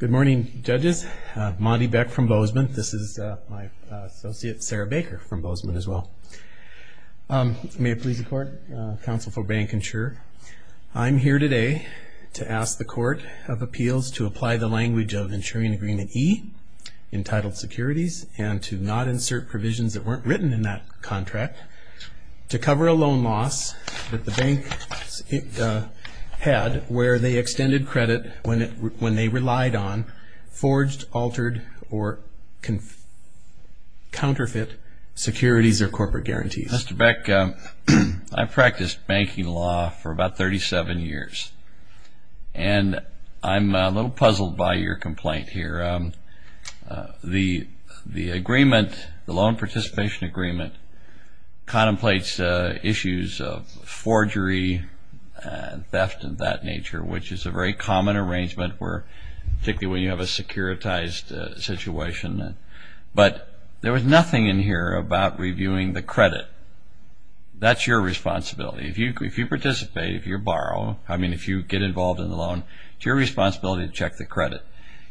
Good morning, judges. Monty Beck from Bozeman. This is my associate Sarah Baker from Bozeman as well. May it please the Court, Counsel for Bancinsure. I'm here today to ask the Court of Appeals to apply the language of insuring agreement E, entitled securities, and to not insert provisions that weren't written in that contract to cover a loan loss that the bank had where they extended credit when they relied on forged, altered, or counterfeit securities or corporate guarantees. Mr. Beck, I've practiced banking law for about 37 years, and I'm a little puzzled by your complaint here. The loan participation agreement contemplates issues of forgery, theft, and that nature, which is a very common arrangement, particularly when you have a securitized situation. But there was nothing in here about reviewing the credit. That's your responsibility. If you participate, if you borrow, if you get involved in the loan, it's your responsibility to check the credit.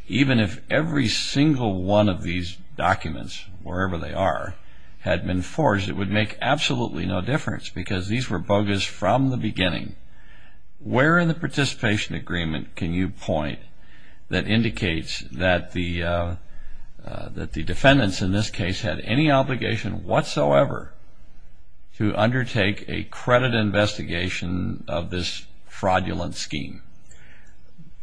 Even if every single one of these documents, wherever they are, had been forged, it would make absolutely no difference because these were bogus from the beginning. Where in the participation agreement can you point that indicates that the defendants in this case had any obligation whatsoever to undertake a credit investigation of this fraudulent scheme?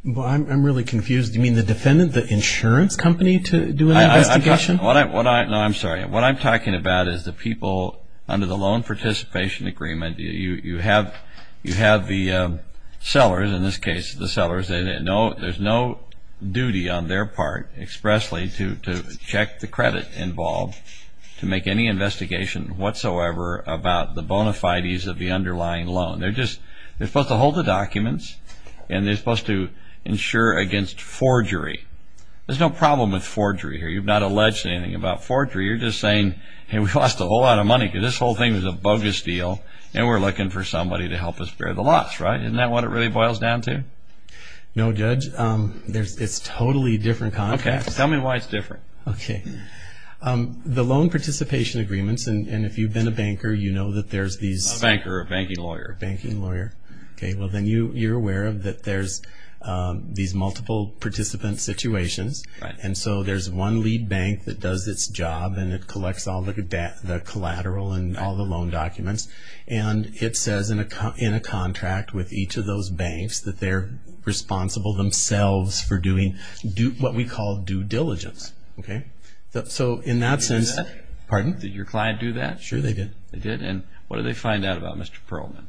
Well, I'm really confused. Do you mean the defendant, the insurance company, to do an investigation? No, I'm sorry. What I'm talking about is the people under the loan participation agreement. You have the sellers, in this case, the sellers. There's no duty on their part expressly to check the credit involved to make any investigation whatsoever about the bona fides of the underlying loan. They're supposed to hold the documents, and they're supposed to insure against forgery. There's no problem with forgery here. You've not alleged anything about forgery. You're just saying, hey, we've lost a whole lot of money because this whole thing is a bogus deal, and we're looking for somebody to help us bear the loss, right? Isn't that what it really boils down to? No, Judge. It's totally different context. Okay. Tell me why it's different. Okay. The loan participation agreements, and if you've been a banker, you know that there's these… I'm a banker, a banking lawyer. Banking lawyer. Okay. Well, then you're aware that there's these multiple participant situations. Right. And so there's one lead bank that does its job, and it collects all the collateral and all the loan documents, and it says in a contract with each of those banks that they're responsible themselves for doing what we call due diligence. Okay? So in that sense… Did your client do that? Pardon? Did your client do that? Sure, they did. They did? And what did they find out about Mr. Perlman?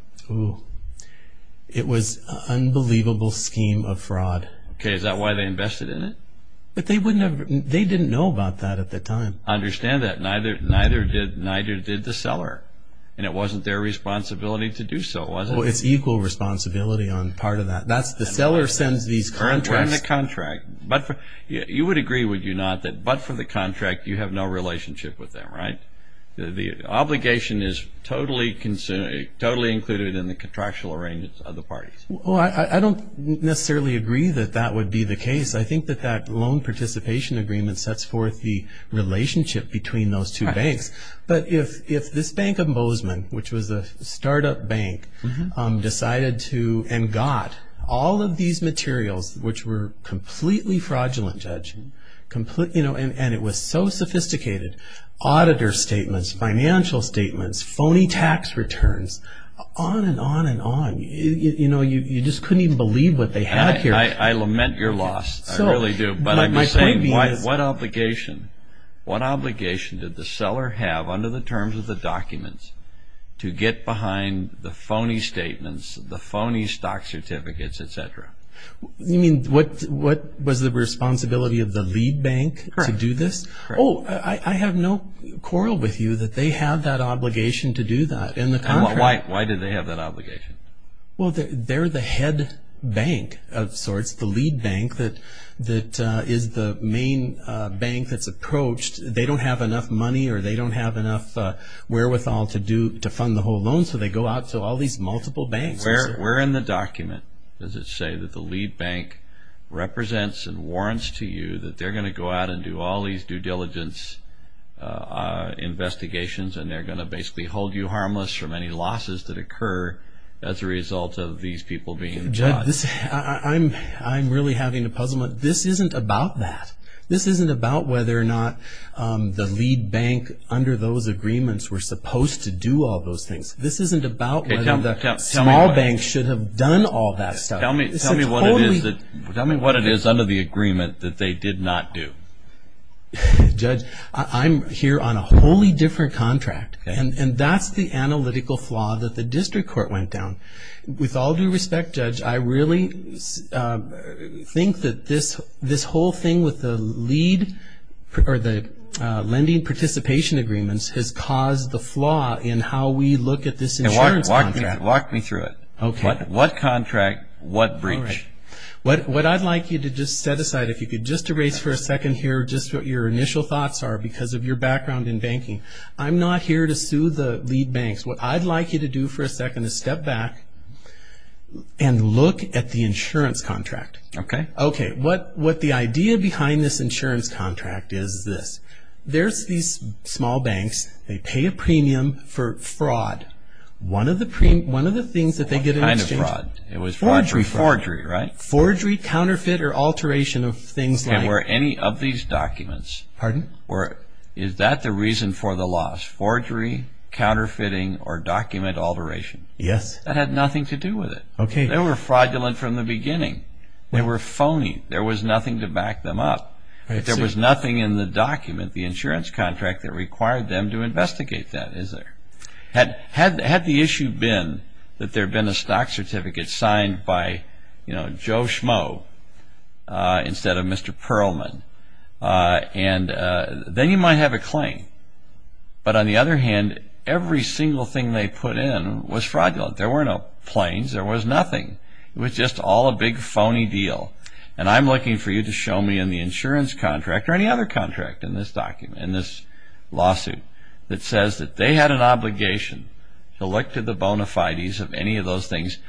It was an unbelievable scheme of fraud. Okay. Is that why they invested in it? But they didn't know about that at the time. I understand that. Neither did the seller, and it wasn't their responsibility to do so, was it? Well, it's equal responsibility on part of that. The seller sends these contracts… You would agree, would you not, that but for the contract, you have no relationship with them, right? The obligation is totally included in the contractual arrangements of the parties. Well, I don't necessarily agree that that would be the case. I think that that loan participation agreement sets forth the relationship between those two banks. But if this Bank of Bozeman, which was a startup bank, decided to and got all of these materials, which were completely fraudulent, Judge, and it was so sophisticated, auditor statements, financial statements, phony tax returns, on and on and on. You just couldn't even believe what they had here. I lament your loss. I really do. What obligation did the seller have under the terms of the documents to get behind the phony statements, the phony stock certificates, etc.? You mean what was the responsibility of the lead bank to do this? Correct. Oh, I have no quarrel with you that they had that obligation to do that. Why did they have that obligation? Well, they're the head bank of sorts, the lead bank that is the main bank that's approached. They don't have enough money or they don't have enough wherewithal to fund the whole loan, so they go out to all these multiple banks. We're in the document, does it say, that the lead bank represents and warrants to you that they're going to go out and do all these due diligence investigations and they're going to basically hold you harmless from any losses that occur as a result of these people being charged. Judge, I'm really having a puzzlement. This isn't about that. This isn't about whether or not the lead bank under those agreements were supposed to do all those things. This isn't about whether the small banks should have done all that stuff. Tell me what it is under the agreement that they did not do. Judge, I'm here on a wholly different contract and that's the analytical flaw that the district court went down. With all due respect, Judge, I really think that this whole thing with the lead or the lending participation agreements has caused the flaw in how we look at this insurance contract. Walk me through it. What contract, what breach? What I'd like you to just set aside. If you could just erase for a second here just what your initial thoughts are because of your background in banking. I'm not here to sue the lead banks. What I'd like you to do for a second is step back and look at the insurance contract. Okay. Okay, what the idea behind this insurance contract is this. There's these small banks. They pay a premium for fraud. One of the things that they get in exchange... What kind of fraud? Fraudulent. Forgery. Forgery, right? Forgery, counterfeit, or alteration of things like... And were any of these documents... Pardon? Is that the reason for the loss? Forgery, counterfeiting, or document alteration? Yes. That had nothing to do with it. Okay. They were fraudulent from the beginning. They were phony. There was nothing to back them up. There was nothing in the document, the insurance contract, that required them to investigate that, is there? Had the issue been that there had been a stock certificate signed by Joe Schmo instead of Mr. Perlman, then you might have a claim. But on the other hand, every single thing they put in was fraudulent. There were no claims. There was nothing. It was just all a big, phony deal. And I'm looking for you to show me in the insurance contract, or any other contract in this document, in this lawsuit, that says that they had an obligation to look to the bona fides of any of those things.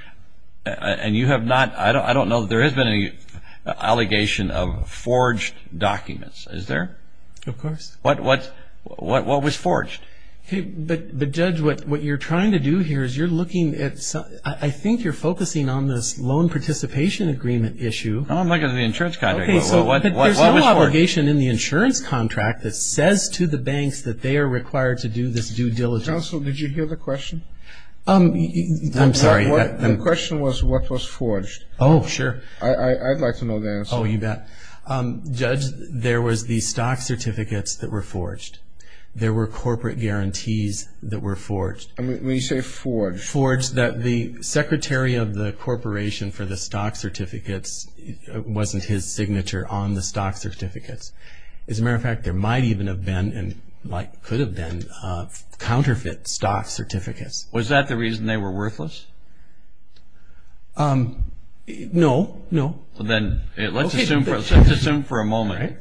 And you have not... I don't know that there has been any allegation of forged documents, is there? Of course. What was forged? But, Judge, what you're trying to do here is you're looking at... I think you're focusing on this loan participation agreement issue. No, I'm looking at the insurance contract. Okay, so there's no obligation in the insurance contract that says to the banks that they are required to do this due diligence. Counsel, did you hear the question? I'm sorry. The question was what was forged. Oh, sure. I'd like to know the answer. Oh, you bet. Judge, there was the stock certificates that were forged. There were corporate guarantees that were forged. When you say forged... The secretary of the corporation for the stock certificates wasn't his signature on the stock certificates. As a matter of fact, there might even have been and could have been counterfeit stock certificates. Was that the reason they were worthless? No, no. Then let's assume for a moment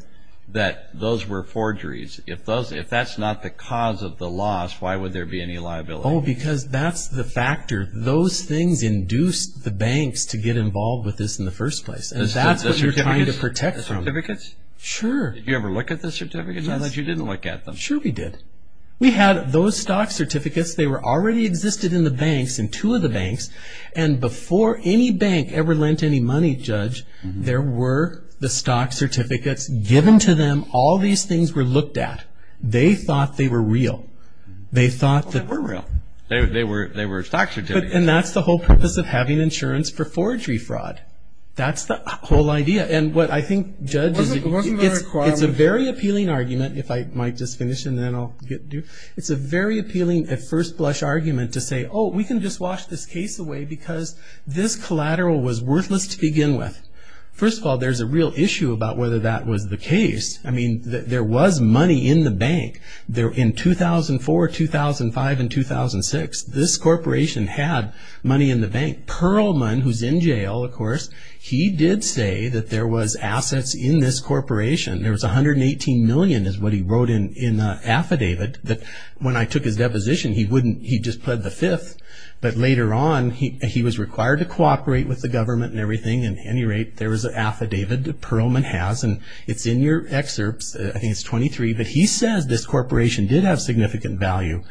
that those were forgeries. If that's not the cause of the loss, why would there be any liability? Oh, because that's the factor. Those things induced the banks to get involved with this in the first place. And that's what you're trying to protect from. The certificates? Sure. Did you ever look at the certificates? I thought you didn't look at them. Sure, we did. We had those stock certificates. They already existed in the banks, in two of the banks. And before any bank ever lent any money, Judge, there were the stock certificates given to them. All these things were looked at. They thought they were real. They thought that they were real. They were stock certificates. And that's the whole purpose of having insurance for forgery fraud. That's the whole idea. And what I think, Judge, it's a very appealing argument, if I might just finish and then I'll get to you. It's a very appealing at first blush argument to say, oh, we can just wash this case away because this collateral was worthless to begin with. First of all, there's a real issue about whether that was the case. I mean, there was money in the bank. In 2004, 2005, and 2006, this corporation had money in the bank. Perlman, who's in jail, of course, he did say that there was assets in this corporation. There was $118 million is what he wrote in the affidavit. When I took his deposition, he just pled the fifth. But later on, he was required to cooperate with the government and everything. At any rate, there was an affidavit that Perlman has, and it's in your excerpts. I think it's 23, but he says this corporation did have significant value,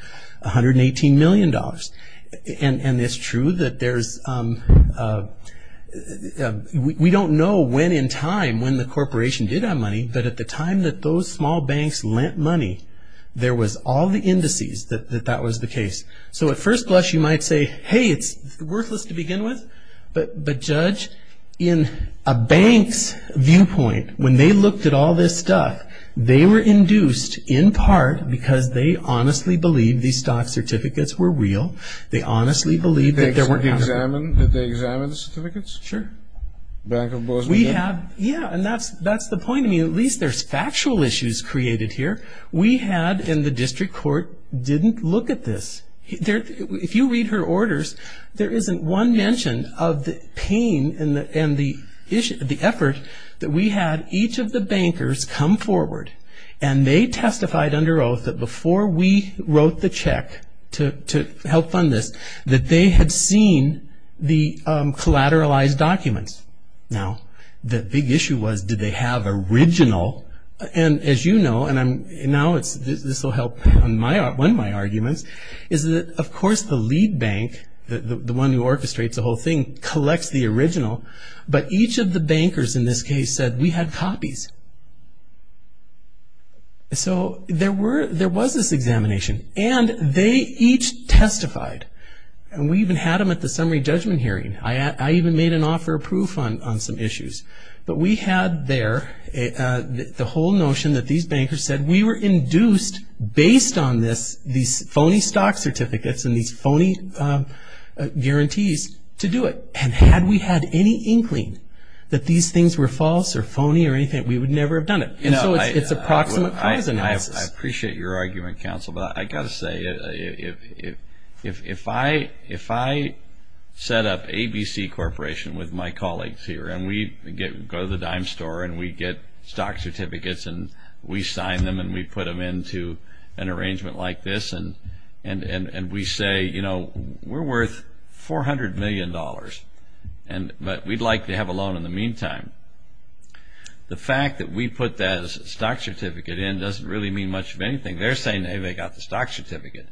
$118 million. And it's true that there's we don't know when in time when the corporation did have money, but at the time that those small banks lent money, there was all the indices that that was the case. So at first blush, you might say, hey, it's worthless to begin with. But, Judge, in a bank's viewpoint, when they looked at all this stuff, they were induced in part because they honestly believed these stock certificates were real. They honestly believed that there weren't. Did they examine the certificates? Sure. Bank of Boston did? Yeah, and that's the point. I mean, at least there's factual issues created here. We had in the district court didn't look at this. If you read her orders, there isn't one mention of the pain and the effort that we had each of the bankers come forward, and they testified under oath that before we wrote the check to help fund this, that they had seen the collateralized documents. Now, the big issue was did they have original, and as you know, and now this will help on one of my arguments, is that, of course, the lead bank, the one who orchestrates the whole thing, collects the original, but each of the bankers in this case said we had copies. So there was this examination, and they each testified, and we even had them at the summary judgment hearing. I even made an offer of proof on some issues. But we had there the whole notion that these bankers said we were induced, based on these phony stock certificates and these phony guarantees, to do it. And had we had any inkling that these things were false or phony or anything, we would never have done it. And so it's a proximate cause analysis. I appreciate your argument, counsel, but I've got to say, if I set up ABC Corporation with my colleagues here, and we go to the dime store, and we get stock certificates, and we sign them, and we put them into an arrangement like this, and we say, you know, we're worth $400 million, but we'd like to have a loan in the meantime. The fact that we put that stock certificate in doesn't really mean much of anything. They're saying, hey, they got the stock certificate.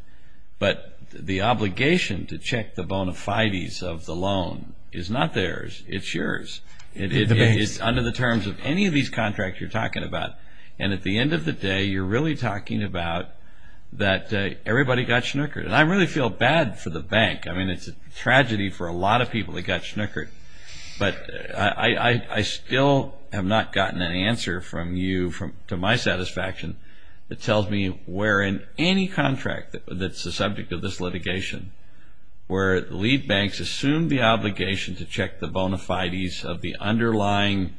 But the obligation to check the bona fides of the loan is not theirs. It's yours. It's under the terms of any of these contracts you're talking about. And at the end of the day, you're really talking about that everybody got snickered. And I really feel bad for the bank. I mean, it's a tragedy for a lot of people that got snickered. But I still have not gotten an answer from you to my satisfaction that tells me where in any contract that's the subject of this litigation where lead banks assume the obligation to check the bona fides of the underlying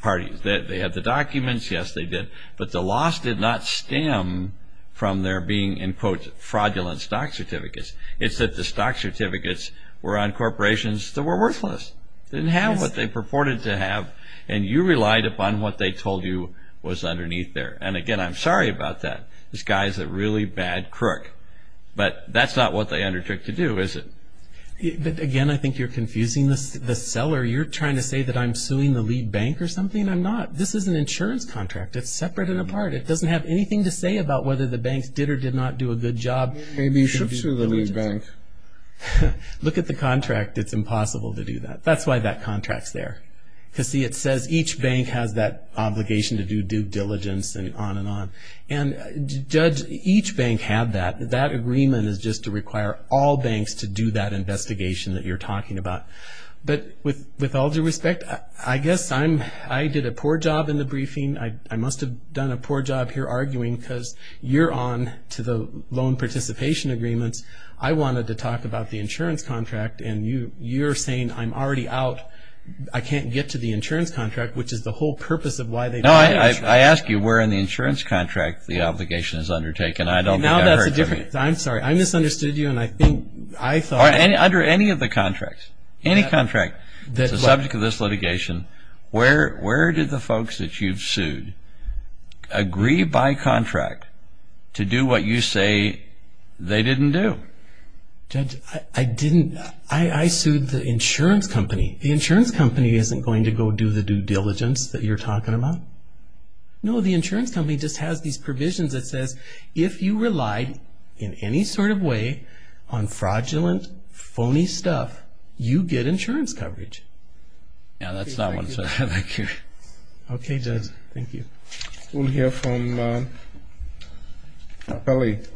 parties. They have the documents. Yes, they did. But the loss did not stem from there being, in quotes, fraudulent stock certificates. It's that the stock certificates were on corporations that were worthless, didn't have what they purported to have, and you relied upon what they told you was underneath there. And, again, I'm sorry about that. This guy is a really bad crook. But that's not what they undertook to do, is it? But, again, I think you're confusing the seller. You're trying to say that I'm suing the lead bank or something. I'm not. This is an insurance contract. It's separate and apart. It doesn't have anything to say about whether the banks did or did not do a good job. Maybe you should sue the lead bank. Look at the contract. It's impossible to do that. That's why that contract's there. Because, see, it says each bank has that obligation to do due diligence and on and on. And, Judge, each bank had that. That agreement is just to require all banks to do that investigation that you're talking about. But with all due respect, I guess I did a poor job in the briefing. I must have done a poor job here arguing because you're on to the loan participation agreements. I wanted to talk about the insurance contract, and you're saying I'm already out. I can't get to the insurance contract, which is the whole purpose of why they did that. No, I asked you where in the insurance contract the obligation is undertaken. I don't think I heard from you. I'm sorry. I misunderstood you, and I think I thought... Under any of the contracts. Any contract. It's the subject of this litigation. Where did the folks that you've sued agree by contract to do what you say they didn't do? Judge, I didn't. I sued the insurance company. The insurance company isn't going to go do the due diligence that you're talking about. No, the insurance company just has these provisions that says if you relied in any sort of way on fraudulent, phony stuff, you get insurance coverage. Yeah, that's not what I said. Thank you. Okay, Judge. Thank you. We'll hear from Apelli.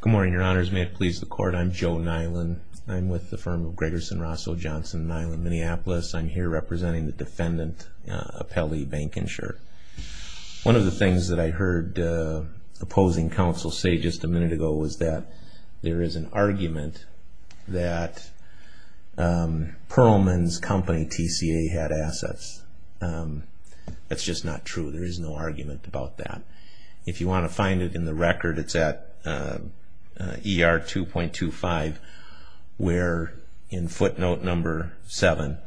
Good morning, Your Honors. May it please the Court. I'm Joe Nyland. I'm with the firm of Gregerson, Rosso, Johnson, Nyland, Minneapolis. I'm here representing the defendant, Apelli Bankinsure. One of the things that I heard opposing counsel say just a minute ago was that there is an argument that Pearlman's company, TCA, had assets. That's just not true. There is no argument about that. If you want to find it in the record, it's at ER 2.25, where in footnote number 7,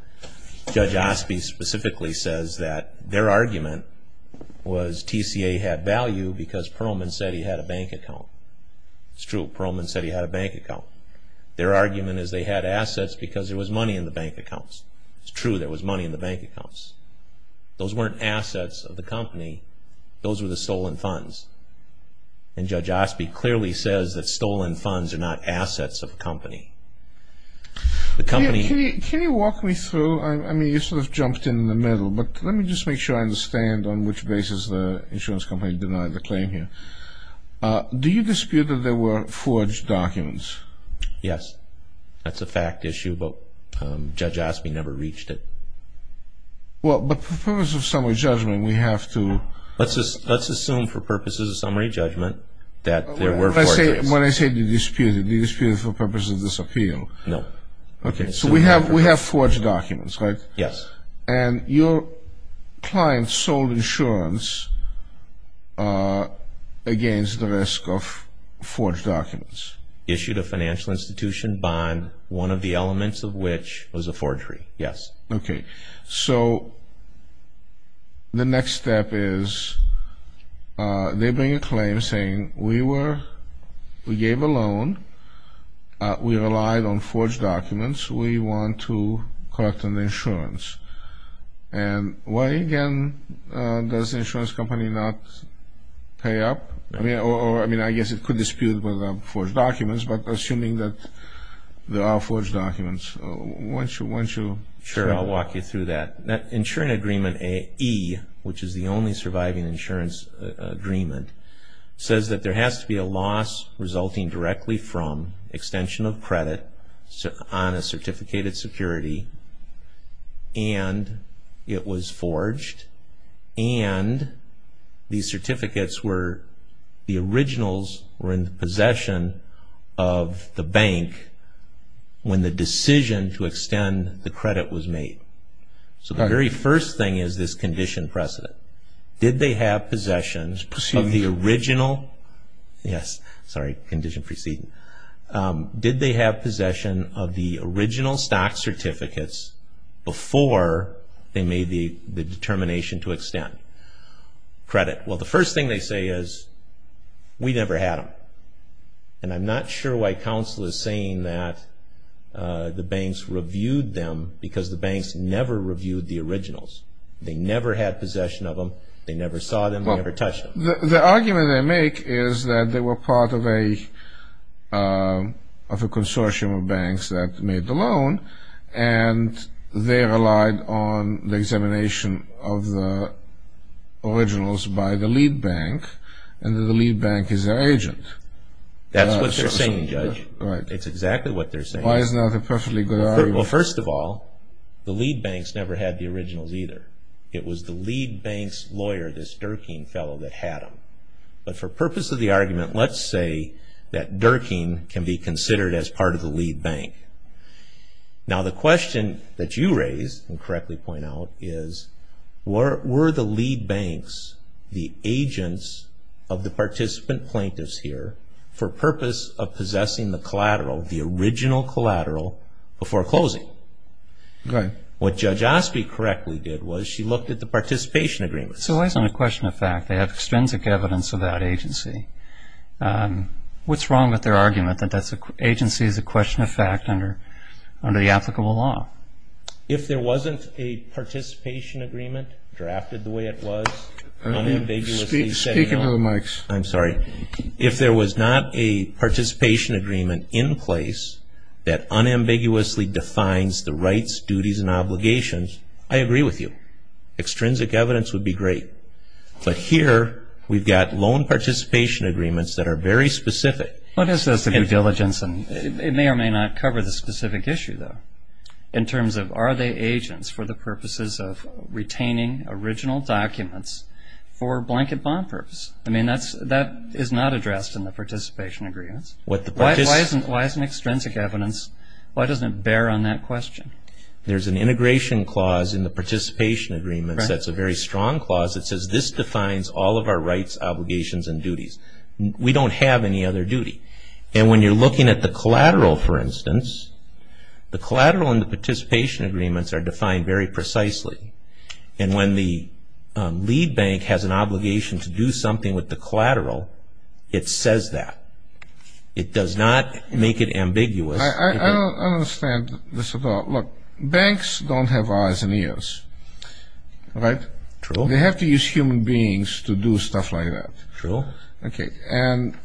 Judge Osby specifically says that their argument was TCA had value because Pearlman said he had a bank account. It's true. Pearlman said he had a bank account. Their argument is they had assets because there was money in the bank accounts. It's true. There was money in the bank accounts. Those weren't assets of the company. Those were the stolen funds. And Judge Osby clearly says that stolen funds are not assets of the company. Can you walk me through? I mean, you sort of jumped in the middle, but let me just make sure I understand on which basis the insurance company denied the claim here. Do you dispute that there were forged documents? Yes. That's a fact issue, but Judge Osby never reached it. Well, but for purposes of summary judgment, we have to... Let's assume for purposes of summary judgment that there were forged documents. When I say you dispute it, do you dispute it for purposes of this appeal? No. Okay. So we have forged documents, right? Yes. And your client sold insurance against the risk of forged documents? Issued a financial institution bond, one of the elements of which was a forgery, yes. Okay. So the next step is they bring a claim saying we gave a loan, we relied on forged documents, we want to collect an insurance. And why, again, does the insurance company not pay up? I mean, I guess it could dispute forged documents, but assuming that there are forged documents, why don't you... Sure, I'll walk you through that. Insurance agreement E, which is the only surviving insurance agreement, says that there has to be a loss resulting directly from extension of credit on a certificated security and it was forged and these certificates were the originals were in the possession of the bank when the decision to extend the credit was made. So the very first thing is this condition precedent. Did they have possessions of the original... Yes, sorry, condition precedent. Did they have possession of the original stock certificates before they made the determination to extend credit? Well, the first thing they say is we never had them and I'm not sure why counsel is saying that the banks reviewed them because the banks never reviewed the originals. They never had possession of them, they never saw them, they never touched them. The argument they make is that they were part of a consortium of banks that made the loan and they relied on the examination of the originals by the lead bank and that the lead bank is their agent. That's what they're saying, Judge. It's exactly what they're saying. Why is that a perfectly good argument? Well, first of all, the lead banks never had the originals either. It was the lead bank's lawyer, this Durkin fellow, that had them. But for purpose of the argument, let's say that Durkin can be considered as part of the lead bank. Now the question that you raised and correctly point out is were the lead banks the agents of the participant plaintiffs here for purpose of possessing the collateral, the original collateral, before closing? What Judge Osby correctly did was she looked at the participation agreement. So it's not a question of fact. They have extrinsic evidence of that agency. What's wrong with their argument that agency is a question of fact under the applicable law? If there wasn't a participation agreement drafted the way it was, unambiguously said no. Speak into the mics. I'm sorry. If there was not a participation agreement in place that unambiguously defines the rights, duties, and obligations, I agree with you. Extrinsic evidence would be great. But here we've got loan participation agreements that are very specific. It may or may not cover the specific issue, though, in terms of are they agents for the purposes of retaining original documents for blanket bond purpose? I mean that is not addressed in the participation agreements. Why isn't extrinsic evidence, why doesn't it bear on that question? There's an integration clause in the participation agreements that's a very strong clause that says we don't have any other duty. And when you're looking at the collateral, for instance, the collateral and the participation agreements are defined very precisely. And when the lead bank has an obligation to do something with the collateral, it says that. It does not make it ambiguous. I don't understand this at all. Look, banks don't have eyes and ears. Right? True. They have to use human beings to do stuff like that. True. Okay. And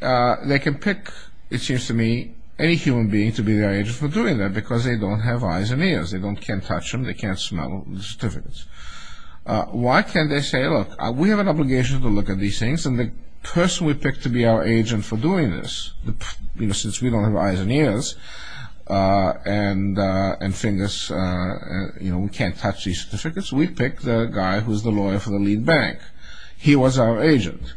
they can pick, it seems to me, any human being to be their agent for doing that because they don't have eyes and ears. They can't touch them. They can't smell the certificates. Why can't they say, look, we have an obligation to look at these things and the person we pick to be our agent for doing this, since we don't have eyes and ears and fingers, we can't touch these certificates, we pick the guy who's the lawyer for the lead bank. He was our agent.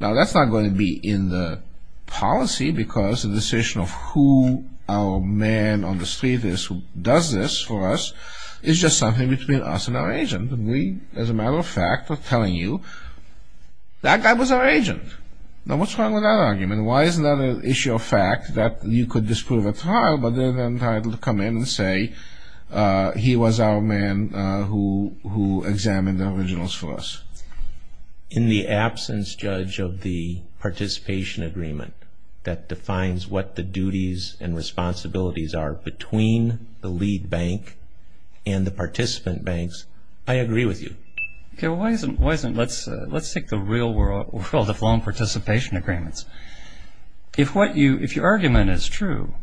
Now, that's not going to be in the policy because the decision of who our man on the street is who does this for us is just something between us and our agent. And we, as a matter of fact, are telling you, that guy was our agent. Now, what's wrong with that argument? Why is it not an issue of fact that you could disprove a trial but then entitled to come in and say he was our man who examined the originals for us? In the absence, Judge, of the participation agreement that defines what the duties and responsibilities are between the lead bank and the participant banks, I agree with you. Okay. Let's take the real world of loan participation agreements. If your argument is true,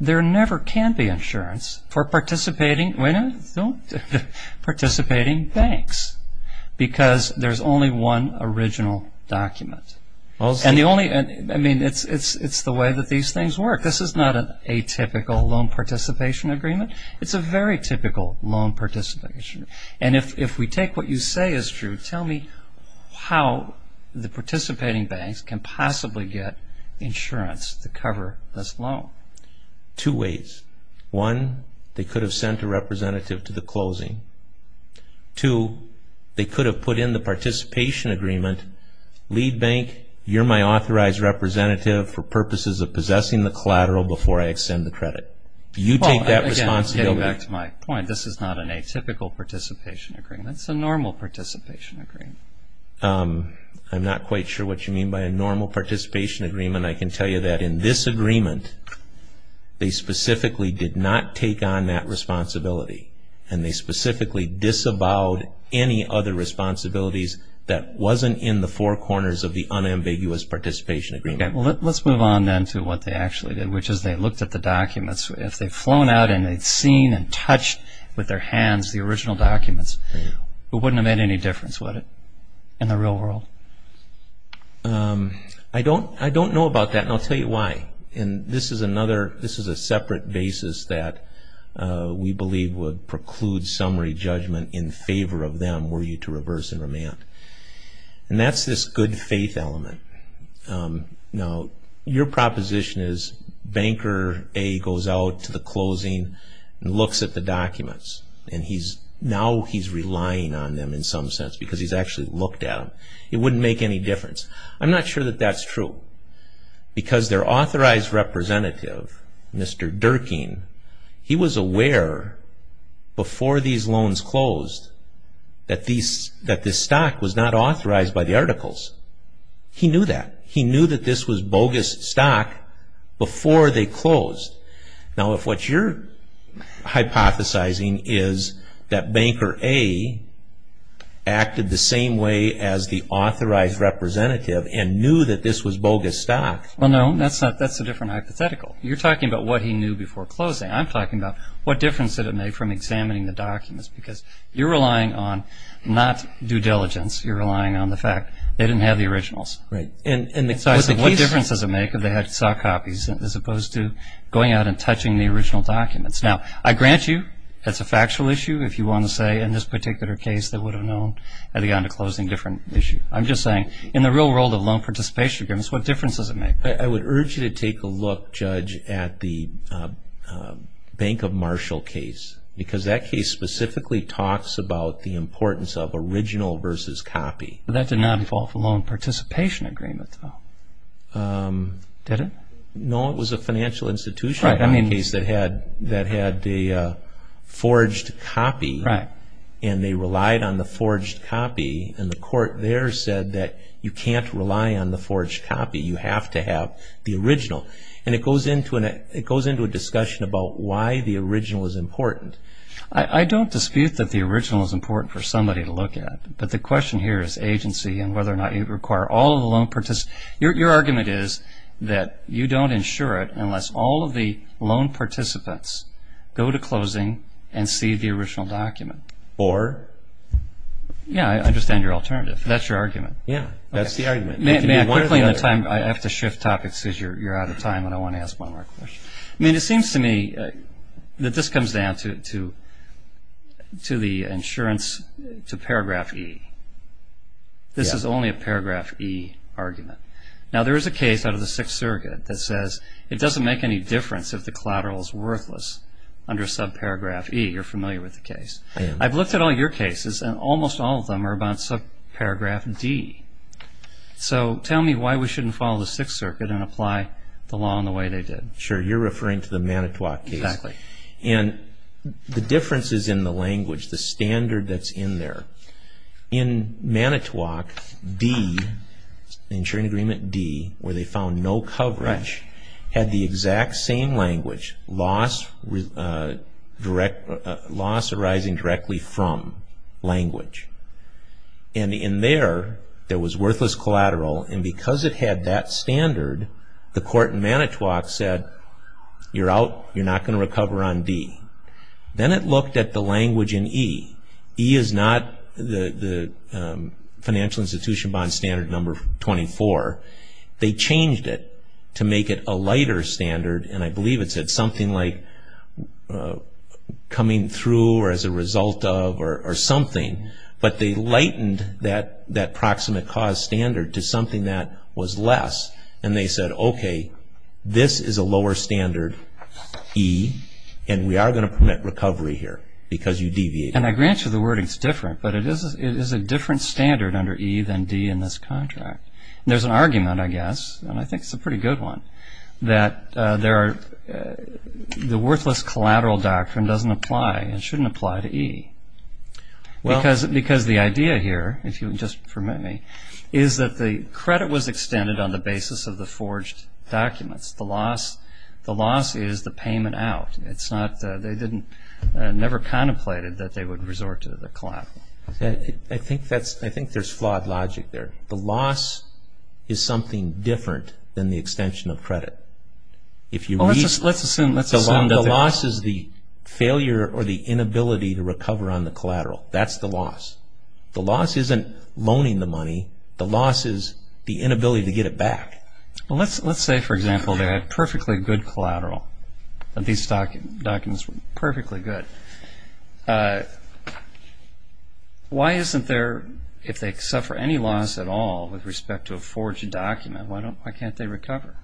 there never can be insurance for participating banks because there's only one original document. I mean, it's the way that these things work. This is not an atypical loan participation agreement. It's a very typical loan participation. And if we take what you say is true, tell me how the participating banks can possibly get insurance to cover this loan. Two ways. One, they could have sent a representative to the closing. Two, they could have put in the participation agreement, lead bank, you're my authorized representative for purposes of possessing the collateral before I extend the credit. You take that responsibility. Getting back to my point, this is not an atypical participation agreement. It's a normal participation agreement. I'm not quite sure what you mean by a normal participation agreement. I can tell you that in this agreement, they specifically did not take on that responsibility, and they specifically disavowed any other responsibilities that wasn't in the four corners of the unambiguous participation agreement. Okay. Well, let's move on then to what they actually did, which is they looked at the documents. If they'd flown out and they'd seen and touched with their hands the original documents, it wouldn't have made any difference, would it, in the real world? I don't know about that, and I'll tell you why. This is a separate basis that we believe would preclude summary judgment in favor of them were you to reverse and remand. And that's this good faith element. Now, your proposition is banker A goes out to the closing and looks at the documents, and now he's relying on them in some sense because he's actually looked at them. It wouldn't make any difference. I'm not sure that that's true because their authorized representative, Mr. Durkin, he was aware before these loans closed that this stock was not authorized by the articles. He knew that. He knew that this was bogus stock before they closed. Now, if what you're hypothesizing is that banker A acted the same way as the authorized representative and knew that this was bogus stock. Well, no, that's a different hypothetical. You're talking about what he knew before closing. I'm talking about what difference did it make from examining the documents because you're relying on not due diligence. You're relying on the fact they didn't have the originals. What difference does it make if they saw copies as opposed to going out and touching the original documents? Now, I grant you that's a factual issue. If you want to say in this particular case they would have known had they gone to closing, different issue. I'm just saying in the real world of loan participation agreements, what difference does it make? I would urge you to take a look, Judge, at the Bank of Marshall case because that case specifically talks about the importance of original versus copy. But that did not involve a loan participation agreement, though, did it? No, it was a financial institution case that had the forged copy and they relied on the forged copy. And the court there said that you can't rely on the forged copy. You have to have the original. And it goes into a discussion about why the original is important. I don't dispute that the original is important for somebody to look at. But the question here is agency and whether or not you require all of the loan participants. Your argument is that you don't insure it unless all of the loan participants go to closing and see the original document. Or? Yeah, I understand your alternative. That's your argument. Yeah, that's the argument. May I quickly in the time? I have to shift topics because you're out of time and I want to ask one more question. It seems to me that this comes down to the insurance to paragraph E. This is only a paragraph E argument. Now there is a case out of the Sixth Surrogate that says it doesn't make any difference if the collateral is worthless under subparagraph E. You're familiar with the case. I am. I've looked at all your cases and almost all of them are about subparagraph D. So tell me why we shouldn't follow the Sixth Surrogate and apply the law in the way they did. Sure. You're referring to the Manitowoc case. Exactly. And the difference is in the language, the standard that's in there. In Manitowoc, D, the insuring agreement D, where they found no coverage, had the exact same language, loss arising directly from language. And in there, there was worthless collateral. And because it had that standard, the court in Manitowoc said, you're out, you're not going to recover on D. Then it looked at the language in E. E is not the financial institution bond standard number 24. They changed it to make it a lighter standard, and I believe it said something like coming through or as a result of or something. But they lightened that proximate cause standard to something that was less, and they said, okay, this is a lower standard, E, and we are going to permit recovery here because you deviated. And I grant you the wording is different, but it is a different standard under E than D in this contract. There's an argument, I guess, and I think it's a pretty good one, that the worthless collateral doctrine doesn't apply and shouldn't apply to E. Because the idea here, if you'll just permit me, is that the credit was extended on the basis of the forged documents. The loss is the payment out. They never contemplated that they would resort to the collateral. I think there's flawed logic there. The loss is something different than the extension of credit. Let's assume the loss is the failure or the inability to recover on the collateral. That's the loss. The loss isn't loaning the money. The loss is the inability to get it back. Let's say, for example, they had perfectly good collateral. These documents were perfectly good. Why isn't there, if they suffer any loss at all with respect to a forged document, why can't they recover?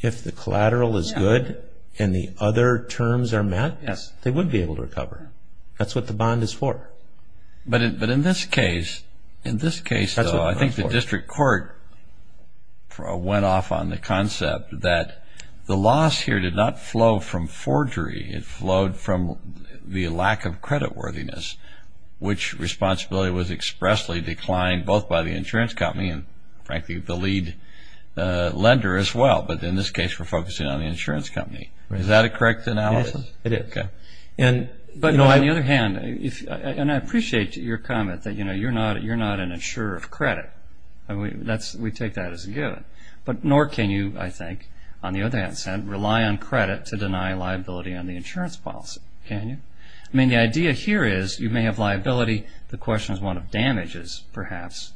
If the collateral is good and the other terms are met, they would be able to recover. That's what the bond is for. But in this case, I think the district court went off on the concept that the loss here did not flow from forgery. It flowed from the lack of creditworthiness, which responsibility was expressly declined both by the insurance company and, frankly, the lead lender as well. But in this case, we're focusing on the insurance company. Is that a correct analysis? Yes, it is. But on the other hand, and I appreciate your comment that you're not an insurer of credit. We take that as a given. But nor can you, I think, on the other hand, rely on credit to deny liability on the insurance policy. Can you? I mean, the idea here is you may have liability. The question is one of damages, perhaps,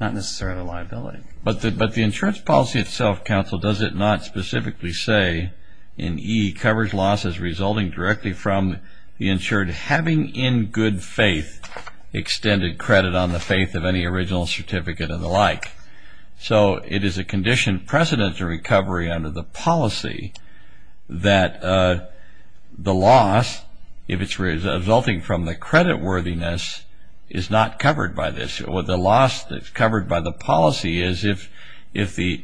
not necessarily liability. But the insurance policy itself, counsel, does it not specifically say in E, covers losses resulting directly from the insured having in good faith extended credit on the faith of any original certificate and the like. So it is a condition precedent to recovery under the policy that the loss, if it's resulting from the creditworthiness, is not covered by this. The loss that's covered by the policy is if the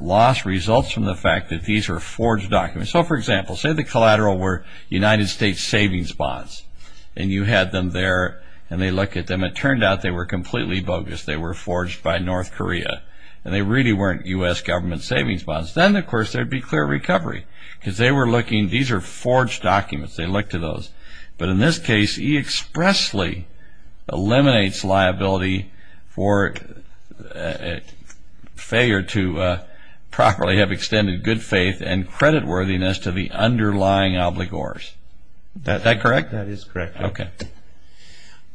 loss results from the fact that these are forged documents. So, for example, say the collateral were United States savings bonds, and you had them there, and they look at them. It turned out they were completely bogus. They were forged by North Korea. And they really weren't U.S. government savings bonds. Then, of course, there would be clear recovery because they were looking. These are forged documents. They look to those. But in this case, E expressly eliminates liability for failure to properly have extended good faith and creditworthiness to the underlying obligors. Is that correct? That is correct. Okay.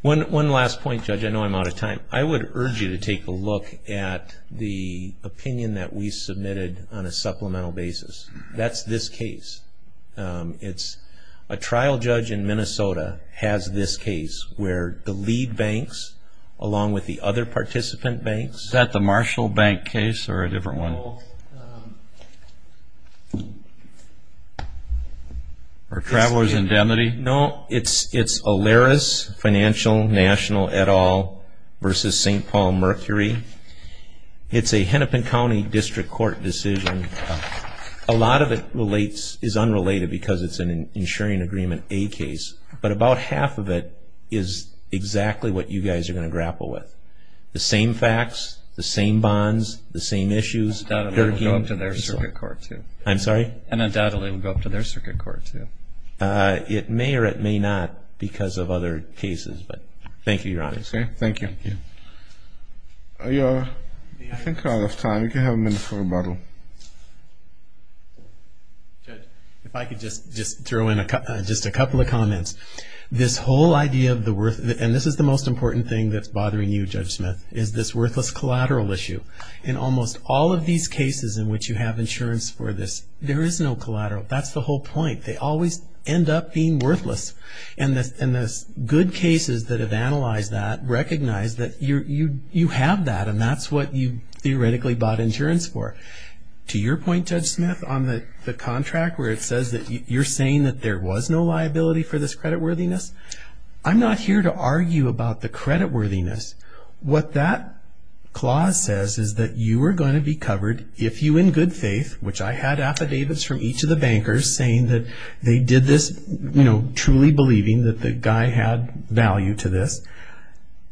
One last point, Judge. I know I'm out of time. I would urge you to take a look at the opinion that we submitted on a supplemental basis. That's this case. It's a trial judge in Minnesota has this case where the lead banks, along with the other participant banks. Is that the Marshall Bank case or a different one? Or Travelers' Indemnity? No, it's Alaris Financial National et al. versus St. Paul Mercury. It's a Hennepin County District Court decision. A lot of it is unrelated because it's an insuring agreement A case. But about half of it is exactly what you guys are going to grapple with. The same facts, the same bonds, the same issues. Undoubtedly, it will go up to their circuit court, too. I'm sorry? Undoubtedly, it will go up to their circuit court, too. It may or it may not because of other cases. But thank you, Your Honor. Okay, thank you. I think we're out of time. We can have a minute for rebuttal. If I could just throw in just a couple of comments. This whole idea of the worth, and this is the most important thing that's bothering you, Judge Smith, is this worthless collateral issue. In almost all of these cases in which you have insurance for this, there is no collateral. That's the whole point. They always end up being worthless. And the good cases that have analyzed that recognize that you have that, and that's what you theoretically bought insurance for. To your point, Judge Smith, on the contract, where it says that you're saying that there was no liability for this creditworthiness, I'm not here to argue about the creditworthiness. What that clause says is that you are going to be covered if you in good faith, which I had affidavits from each of the bankers saying that they did this, you know, truly believing that the guy had value to this,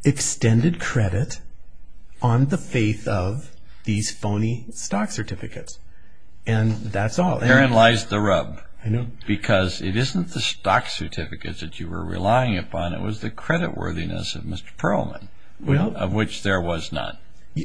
extended credit on the faith of these phony stock certificates. And that's all. Therein lies the rub. I know. Because it isn't the stock certificates that you were relying upon. It was the creditworthiness of Mr. Perlman, of which there was none.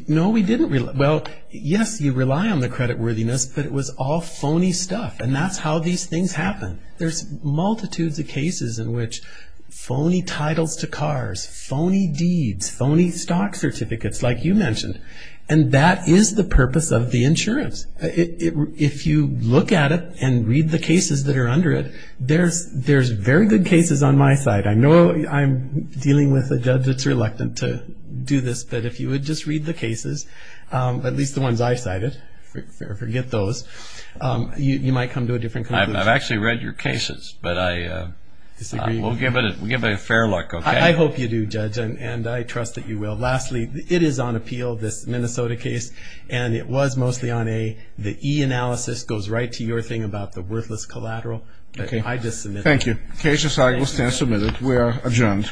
No, we didn't rely. Well, yes, you rely on the creditworthiness, but it was all phony stuff, and that's how these things happen. There's multitudes of cases in which phony titles to cars, phony deeds, phony stock certificates, like you mentioned. And that is the purpose of the insurance. If you look at it and read the cases that are under it, there's very good cases on my side. I know I'm dealing with a judge that's reluctant to do this, but if you would just read the cases, at least the ones I cited, forget those, you might come to a different conclusion. I've actually read your cases, but I will give it a fair look, okay? I hope you do, Judge, and I trust that you will. Lastly, it is on appeal, this Minnesota case, and it was mostly on A. The E analysis goes right to your thing about the worthless collateral. I just submit that. Thank you. The case is now submitted. We are adjourned. All rise.